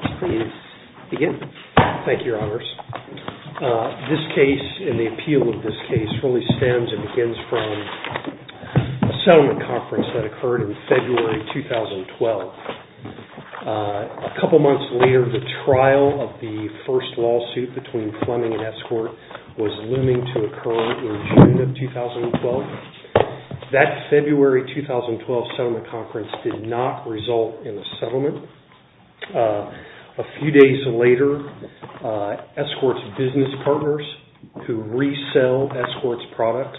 Thank you, Your Honors. This case, and the appeal of this case, really stems and begins from a settlement conference that occurred in February 2012. A couple of months later, the trial of the first lawsuit between Fleming and Escort was looming to occur in June 2012. That February 2012 settlement conference did not result in a settlement. A few days later, Escort's business partners who resell Escort's products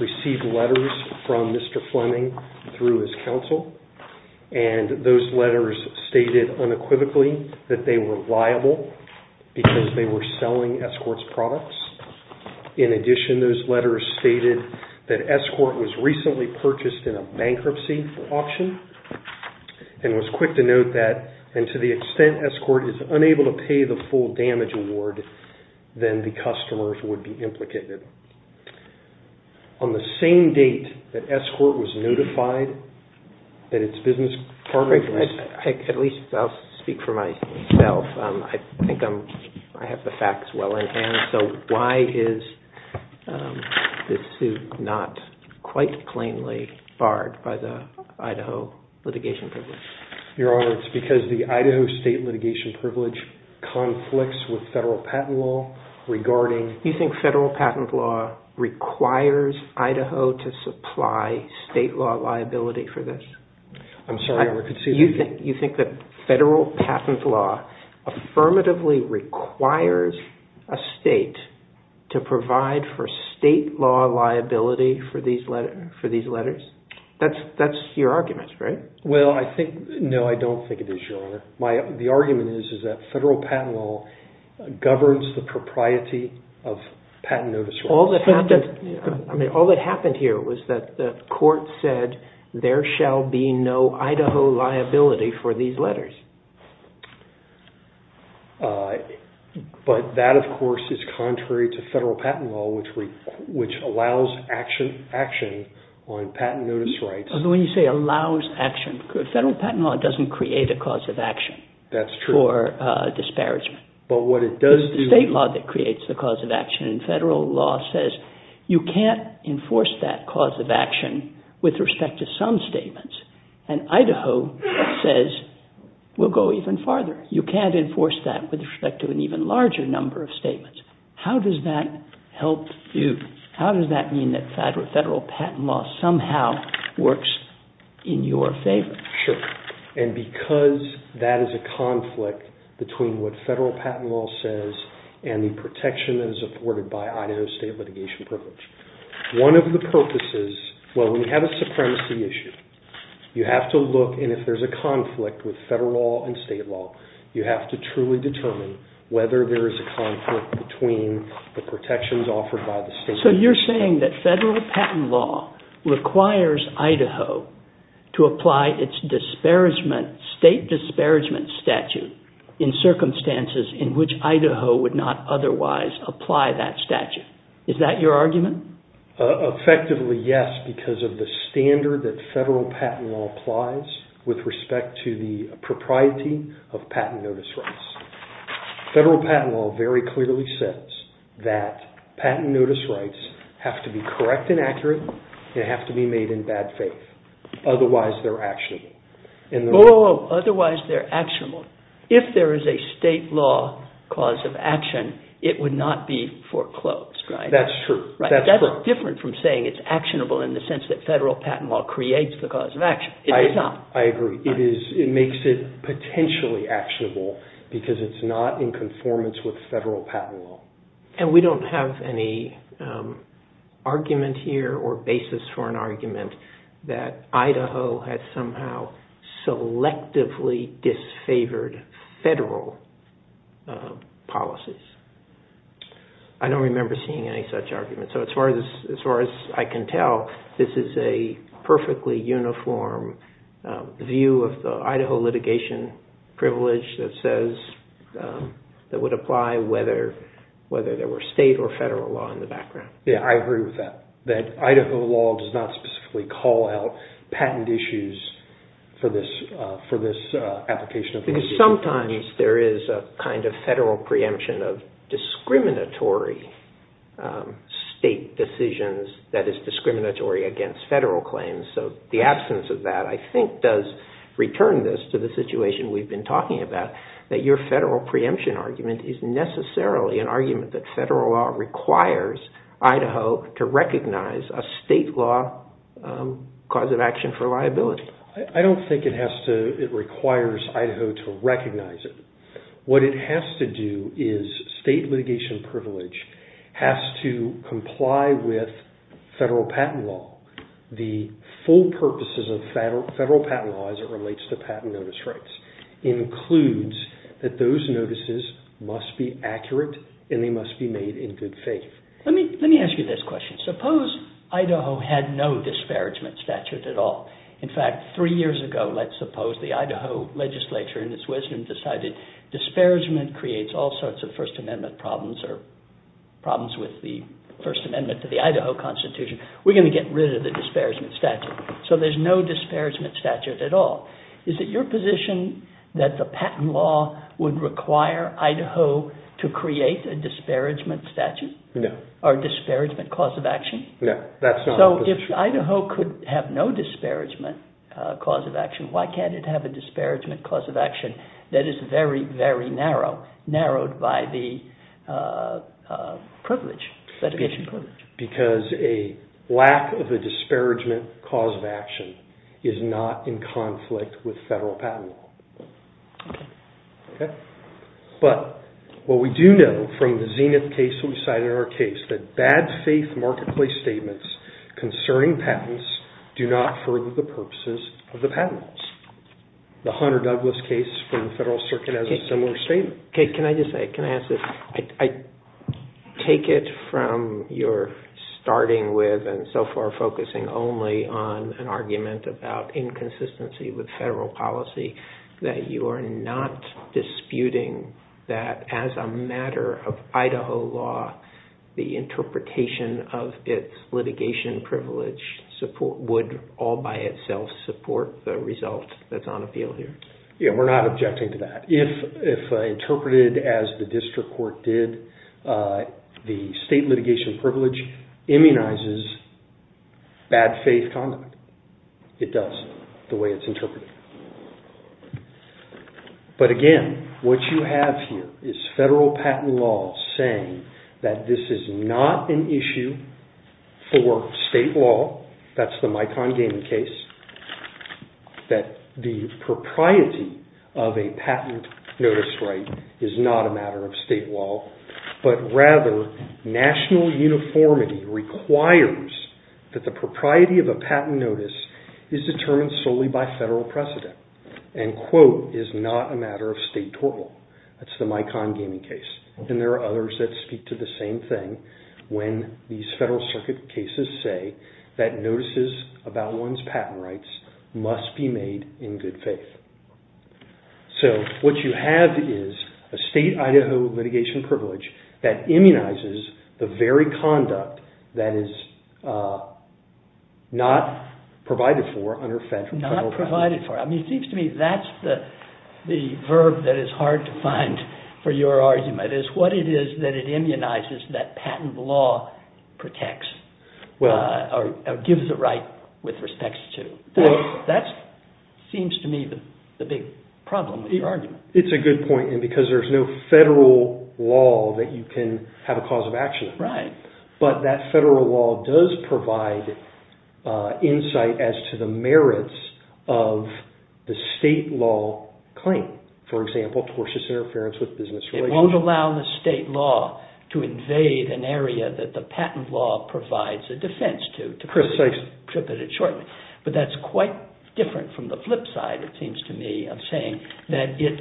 received letters from Mr. Fleming through his counsel, and those letters stated unequivocally that they were liable because they were selling Escort's products. In addition, those letters stated that Escort was recently purchased in a bankruptcy auction, and it was quick to note that, and to the extent Escort is unable to pay the full damage award, then the customers would be implicated. On the same date that Escort was notified that its business partners... At least I'll speak for myself. I think I have the facts well in hand, so why is this suit not quite plainly barred by the Idaho litigation privilege? Your Honor, it's because the Idaho state litigation privilege conflicts with federal patent law regarding... You think federal patent law requires Idaho to supply state law liability for this? I'm sorry, Your Honor, could you... You think that federal patent law affirmatively requires a state to provide for state law liability for these letters? That's your argument, right? Well, I think... No, I don't think it is, Your Honor. The argument is that federal patent law governs the propriety of patent notice rights. I mean, all that happened here was that the court said, there shall be no Idaho liability for these letters. But that, of course, is contrary to federal patent law, which allows action on patent notice rights. When you say allows action, federal patent law doesn't create a cause of action. That's true. For disparagement. But what it does do... The cause of action in federal law says you can't enforce that cause of action with respect to some statements. And Idaho says, we'll go even farther. You can't enforce that with respect to an even larger number of statements. How does that help you? How does that mean that federal patent law somehow works in your favor? Sure. And because that is a conflict between what federal patent law says and the protection that is afforded by Idaho state litigation privilege. One of the purposes... Well, we have a supremacy issue. You have to look... And if there's a conflict with federal law and state law, you have to truly determine whether there is a conflict between the protections offered by the state... So you're saying that federal patent law requires Idaho to apply its state disparagement statute in circumstances in which Idaho would not otherwise apply that statute. Is that your argument? Effectively, yes. Because of the standard that federal patent law applies with respect to the propriety of patent notice rights. Federal patent law very clearly says that patent notice rights have to be correct and accurate. They have to be made in bad faith. Otherwise, they're actionable. Otherwise, they're actionable. If there is a state law cause of action, it would not be foreclosed, right? That's true. That's different from saying it's actionable in the sense that federal patent law creates the cause of action. It does not. I agree. It makes it potentially actionable because it's not in conformance with federal patent law. And we don't have any argument here or basis for an argument that Idaho had somehow selectively disfavored federal policies. I don't remember seeing any such argument. As far as I can tell, this is a perfectly uniform view of the Idaho litigation privilege that would apply whether there were state or federal law in the background. Yeah, I agree with that. That Idaho law does not specifically call out patent issues for this application of litigation. Because sometimes there is a kind of federal preemption of state decisions that is discriminatory against federal claims. So the absence of that, I think, does return this to the situation we've been talking about, that your federal preemption argument is necessarily an argument that federal law requires Idaho to recognize a state law cause of action for liability. I don't think it requires Idaho to recognize it. What it has to do is state litigation privilege has to comply with federal patent law. The full purposes of federal patent law as it relates to patent notice rights includes that those notices must be accurate and they must be made in good faith. Let me ask you this question. Suppose Idaho had no disparagement statute at all. In fact, three years ago, let's suppose the Idaho legislature in its wisdom decided disparagement creates all sorts of First Amendment problems or problems with the First Amendment to the Idaho Constitution. We're going to get rid of the disparagement statute. So there's no disparagement statute at all. Is it your position that the patent law would require Idaho to create a disparagement statute? No. Or a disparagement cause of action? No, that's not my position. So if Idaho could have no disparagement cause of action, why can't it have a disparagement cause of action that is very, very narrow, narrowed by the privilege, litigation privilege? Because a lack of a disparagement cause of action is not in conflict with federal patent law. But what we do know from the Zenith case we cited in our case, that bad faith marketplace statements concerning patents do not further the purposes of the patents. The Hunter-Douglas case from the federal circuit has a similar statement. Kate, can I just say, can I ask this, I take it from your starting with and so far focusing only on an argument about inconsistency with federal policy, that you are not disputing that as a matter of Idaho law, the interpretation of its litigation privilege support, would all by itself support the result that's on appeal here? Yeah, we're not objecting to that. If interpreted as the district court did, the state litigation privilege immunizes bad faith conduct. It does, the way it's interpreted. But again, what you have here is federal patent law saying that this is not an issue for state law. That's the Micon-Gaming case. That the propriety of a patent notice right is not a matter of state law, but rather national uniformity requires that the propriety of a patent notice is determined solely by federal precedent and quote, is not a matter of state total. That's the Micon-Gaming case. And there are others that speak to the same thing when these federal circuit cases say that notices about one's patent rights must be made in good faith. So what you have is a state Idaho litigation privilege that immunizes the very conduct that is not provided for under federal patent law. Not provided for. I mean, it seems to me that's the verb that is hard to find for your argument. It's what it is that it immunizes that patent law protects or gives it right with respect to. That seems to me the big problem with your argument. It's a good point because there's no federal law that you can have a cause of action. Right. But that federal law does provide insight as to the merits of the state law claim. For example, tortious interference with business relations. Won't allow the state law to invade an area that the patent law provides a defense to. To put it shortly. But that's quite different from the flip side, it seems to me, of saying that it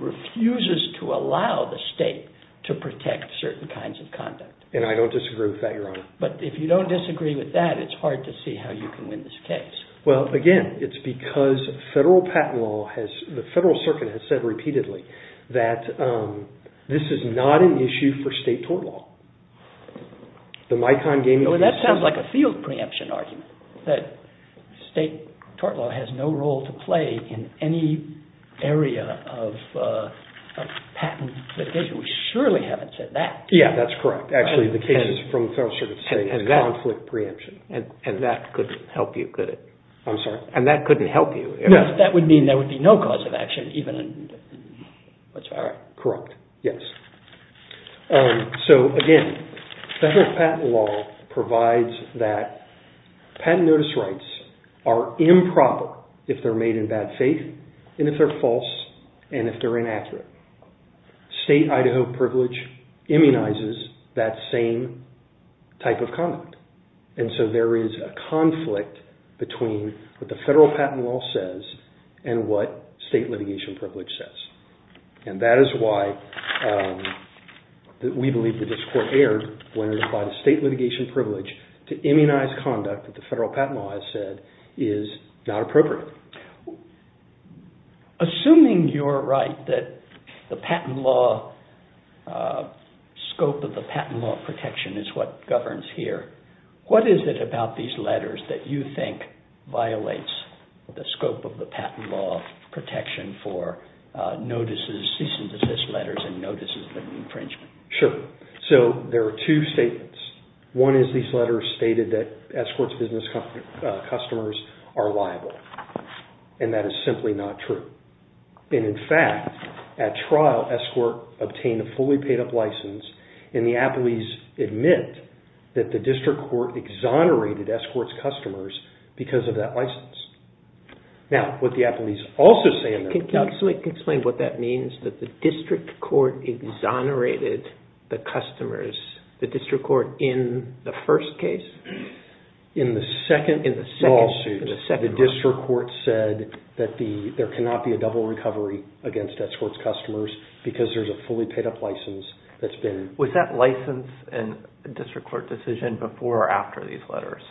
refuses to allow the state to protect certain kinds of conduct. And I don't disagree with that, Your Honor. But if you don't disagree with that, it's hard to see how you can win this case. Well, again, it's because federal patent law has, the Federal Circuit has said repeatedly that this is not an issue for state tort law. The Micon-Gaming case. That sounds like a field preemption argument. That state tort law has no role to play in any area of patent litigation. We surely haven't said that. Yeah, that's correct. Actually, the case is from the Federal Circuit saying it's conflict preemption. And that couldn't help you, could it? I'm sorry. And that couldn't help you. That would mean there would be no cause of action, even... Correct, yes. So, again, federal patent law provides that patent notice rights are improper if they're made in bad faith, and if they're false, and if they're inaccurate. State Idaho privilege immunizes that same type of conduct. And so there is a conflict between what the federal patent law says and what state litigation privilege says. And that is why we believe that this court erred when it applied state litigation privilege to immunize conduct that the federal patent law has said is not appropriate. Assuming you're right that the patent law, scope of the patent law protection is what governs here, what is it about these letters that you think violates the scope of the patent law protection for notices, cease and desist letters and notices of infringement? Sure. So there are two statements. One is these letters stated that Escort's business customers are liable. And that is simply not true. And in fact, at trial, Escort obtained a fully paid up license and the appellees admit that the district court exonerated Escort's customers because of that license. Now, what the appellees also say in their plea... Can you also explain what that means that the district court exonerated the customers, the district court in the first case? In the second lawsuit, the district court said that there cannot be a double recovery against Escort's customers because there's a fully paid up license that's been... Was that license and district court decision before or after these letters?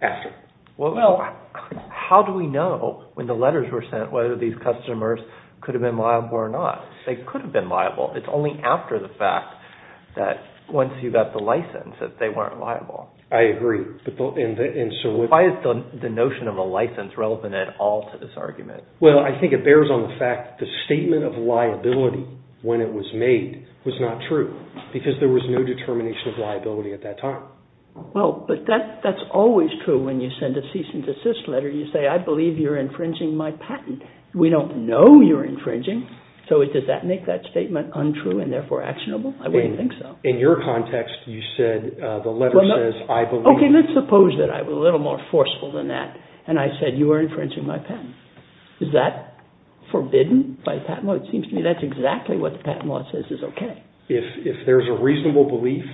After. Well, how do we know when the letters were sent whether these customers could have been liable or not? They could have been liable. It's only after the fact that once you got the license that they weren't liable. I agree. Why is the notion of a license relevant at all to this argument? Well, I think it bears on the fact the statement of liability when it was made was not true because there was no determination of liability at that time. Well, but that's always true when you send a cease and desist letter. You say, I believe you're infringing my patent. We don't know you're infringing. So does that make that statement untrue and therefore actionable? I wouldn't think so. In your context, you said the letter says, I believe... Okay, let's suppose that I was a little more forceful than that and I said you are infringing my patent. Is that forbidden by patent law? It seems to me that's exactly what the patent law says is okay. If there's a reasonable belief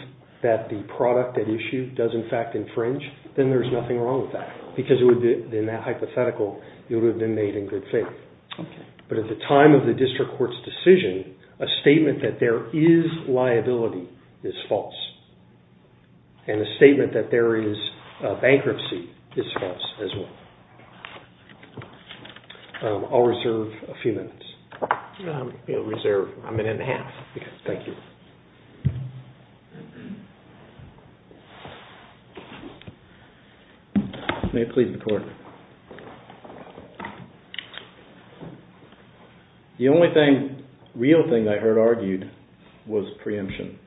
that the product at issue does in fact infringe, then there's nothing wrong with that because in that hypothetical, it would have been made in good faith. But at the time of the district court's decision, a statement that there is liability is false and a statement that there is bankruptcy is false as well. I'll reserve a few minutes. You'll reserve a minute and a half. Thank you. May it please the court. The only thing, real thing I heard argued was preemption.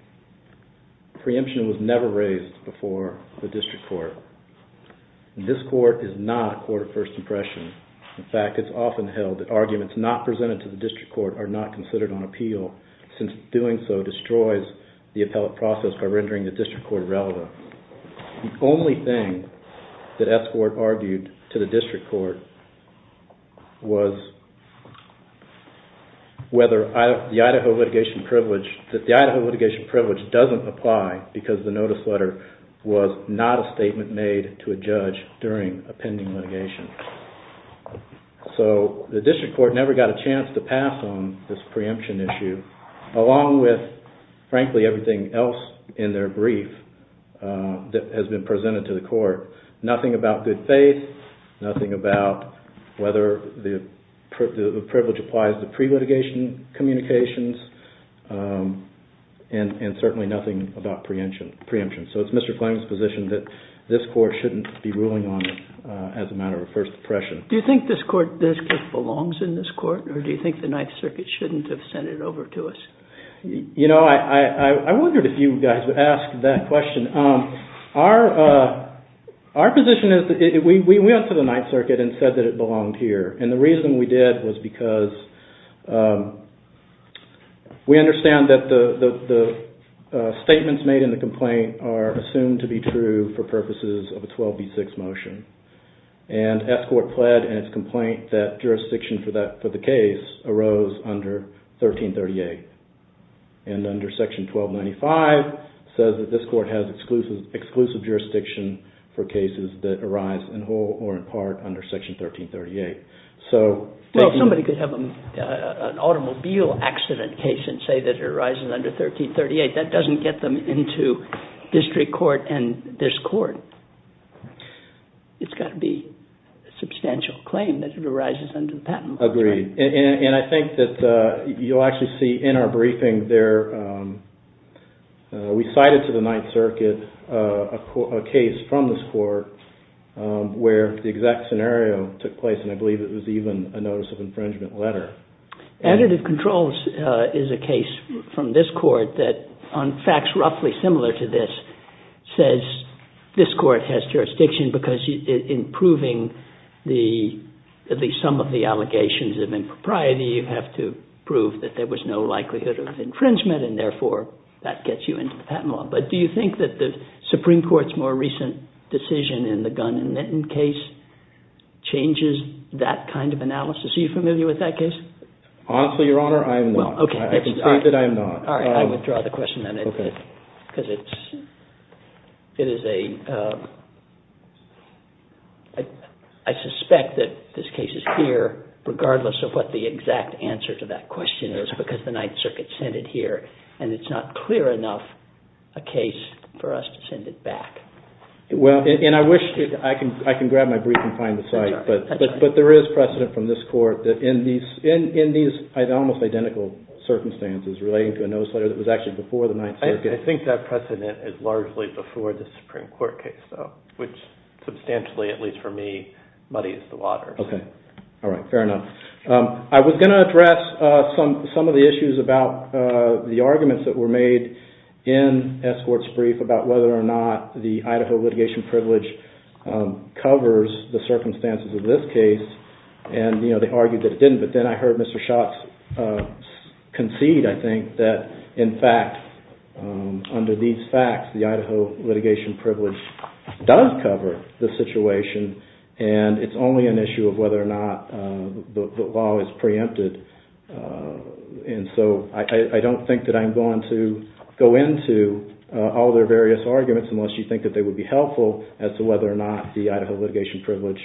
Preemption was never raised before the district court. This court is not a court of first impression. In fact, it's often held that arguments not presented to the district court are not considered on appeal since doing so destroys the appellate process by rendering the district court irrelevant. The only thing that Escort argued to the district court was that the Idaho litigation privilege doesn't apply because the notice letter was not a statement made to a judge during a pending litigation. So the district court never got a chance to pass on this preemption issue along with, frankly, everything else in their brief that has been presented to the court. Nothing about good faith, nothing about whether the privilege applies to pre-litigation communications, and certainly nothing about preemption. So it's Mr. Kline's position that this court shouldn't be ruling on it as a matter of first impression. Do you think this district belongs in this court, or do you think the Ninth Circuit shouldn't have sent it over to us? You know, I wondered if you guys would ask that question. Our position is that we went to the Ninth Circuit and said that it belonged here, and the reason we did was because we understand that the statements made in the complaint are assumed to be true for purposes of a 12B6 motion. And S Court pled in its complaint that jurisdiction for the case arose under 1338, and under section 1295 says that this court has exclusive jurisdiction for cases that arise in whole or in part under section 1338. Somebody could have an automobile accident case and say that it arises under 1338. That doesn't get them into district court and this court. It's got to be a substantial claim that it arises under the patent law. Agreed, and I think that you'll actually see in our briefing there, we cited to the Ninth Circuit a case from this court where the exact scenario took place, and I believe it was even a notice of infringement letter. Additive controls is a case from this court that on facts roughly similar to this, says this court has jurisdiction because in proving the, at least some of the allegations of impropriety, you have to prove that there was no likelihood of infringement, and therefore that gets you into the patent law. But do you think that the Supreme Court's more recent decision in the Gunn and Linton case changes that kind of analysis? Are you familiar with that case? Honestly, Your Honor, I am not. Well, okay. All right, I withdraw the question then. Okay. Because it is a, I suspect that this case is here regardless of what the exact answer to that question is because the Ninth Circuit sent it here, and it's not clear enough a case for us to send it back. Well, and I wish, I can grab my brief and find the site, but there is precedent from this court that in these almost identical circumstances relating to a notice letter that was actually before the Ninth Circuit. I think that precedent is largely before the Supreme Court case, though, which substantially, at least for me, muddies the water. Okay. All right, fair enough. I was going to address some of the issues about the arguments that were made in S. Court's brief about whether or not the Idaho litigation privilege covers the circumstances of this case, and they argued that it didn't, but then I heard Mr. Schatz concede, I think, that in fact, under these facts, the Idaho litigation privilege does cover the situation, and it's only an issue of whether or not the law is preempted. And so I don't think that I'm going to go into all their various arguments unless you think that they would be helpful as to whether or not the Idaho litigation privilege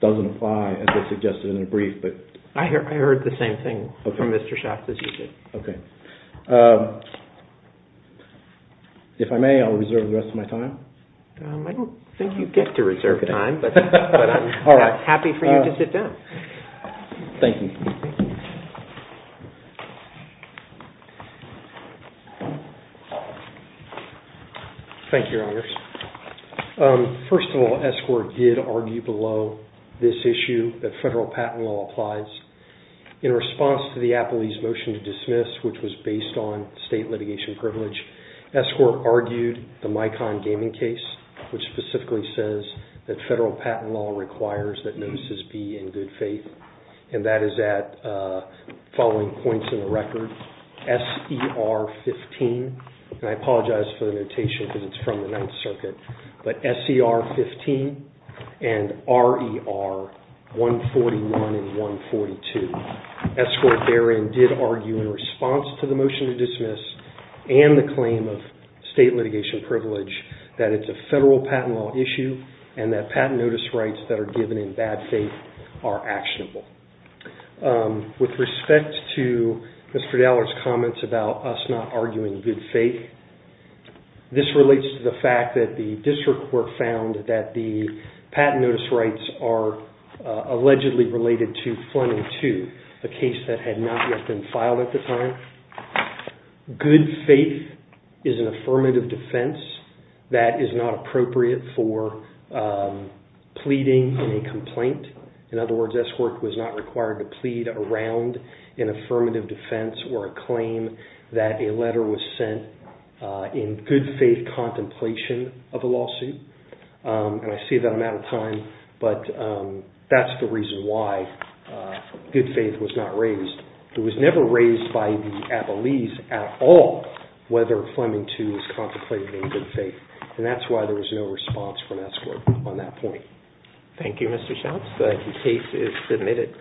doesn't apply, as they suggested in their brief. I heard the same thing from Mr. Schatz, as you did. Okay. If I may, I'll reserve the rest of my time. I don't think you get to reserve time, but I'm happy for you to sit down. Thank you. Thank you, Your Honors. First of all, Escort did argue below this issue, that federal patent law applies. In response to the Appley's motion to dismiss, which was based on state litigation privilege, Escort argued the Micon Gaming case, which specifically says that federal patent law requires that notices be in good faith, and that is at the following points in the record, S.E.R. 15, and I apologize for the notation because it's from the Ninth Circuit, but S.E.R. 15 and R.E.R. 141 and 142. Escort therein did argue in response to the motion to dismiss, and the claim of state litigation privilege, that it's a federal patent law issue, and that patent notice rights that are given in bad faith are actionable. With respect to Mr. Dallard's comments about us not arguing good faith, this relates to the fact that the district court found that the patent notice rights are allegedly related to Fleming 2, a case that had not yet been filed at the time. Good faith is an affirmative defense that is not appropriate for pleading a complaint. In other words, Escort was not required to plead around an affirmative defense or a claim that a letter was sent in good faith contemplation of a lawsuit, and I see that I'm out of time, but that's the reason why good faith was not raised. It was never raised by the Abilese at all whether Fleming 2 was contemplated in good faith, and that's why there was no response from Escort on that point. Thank you, Mr. Schatz. The case is submitted.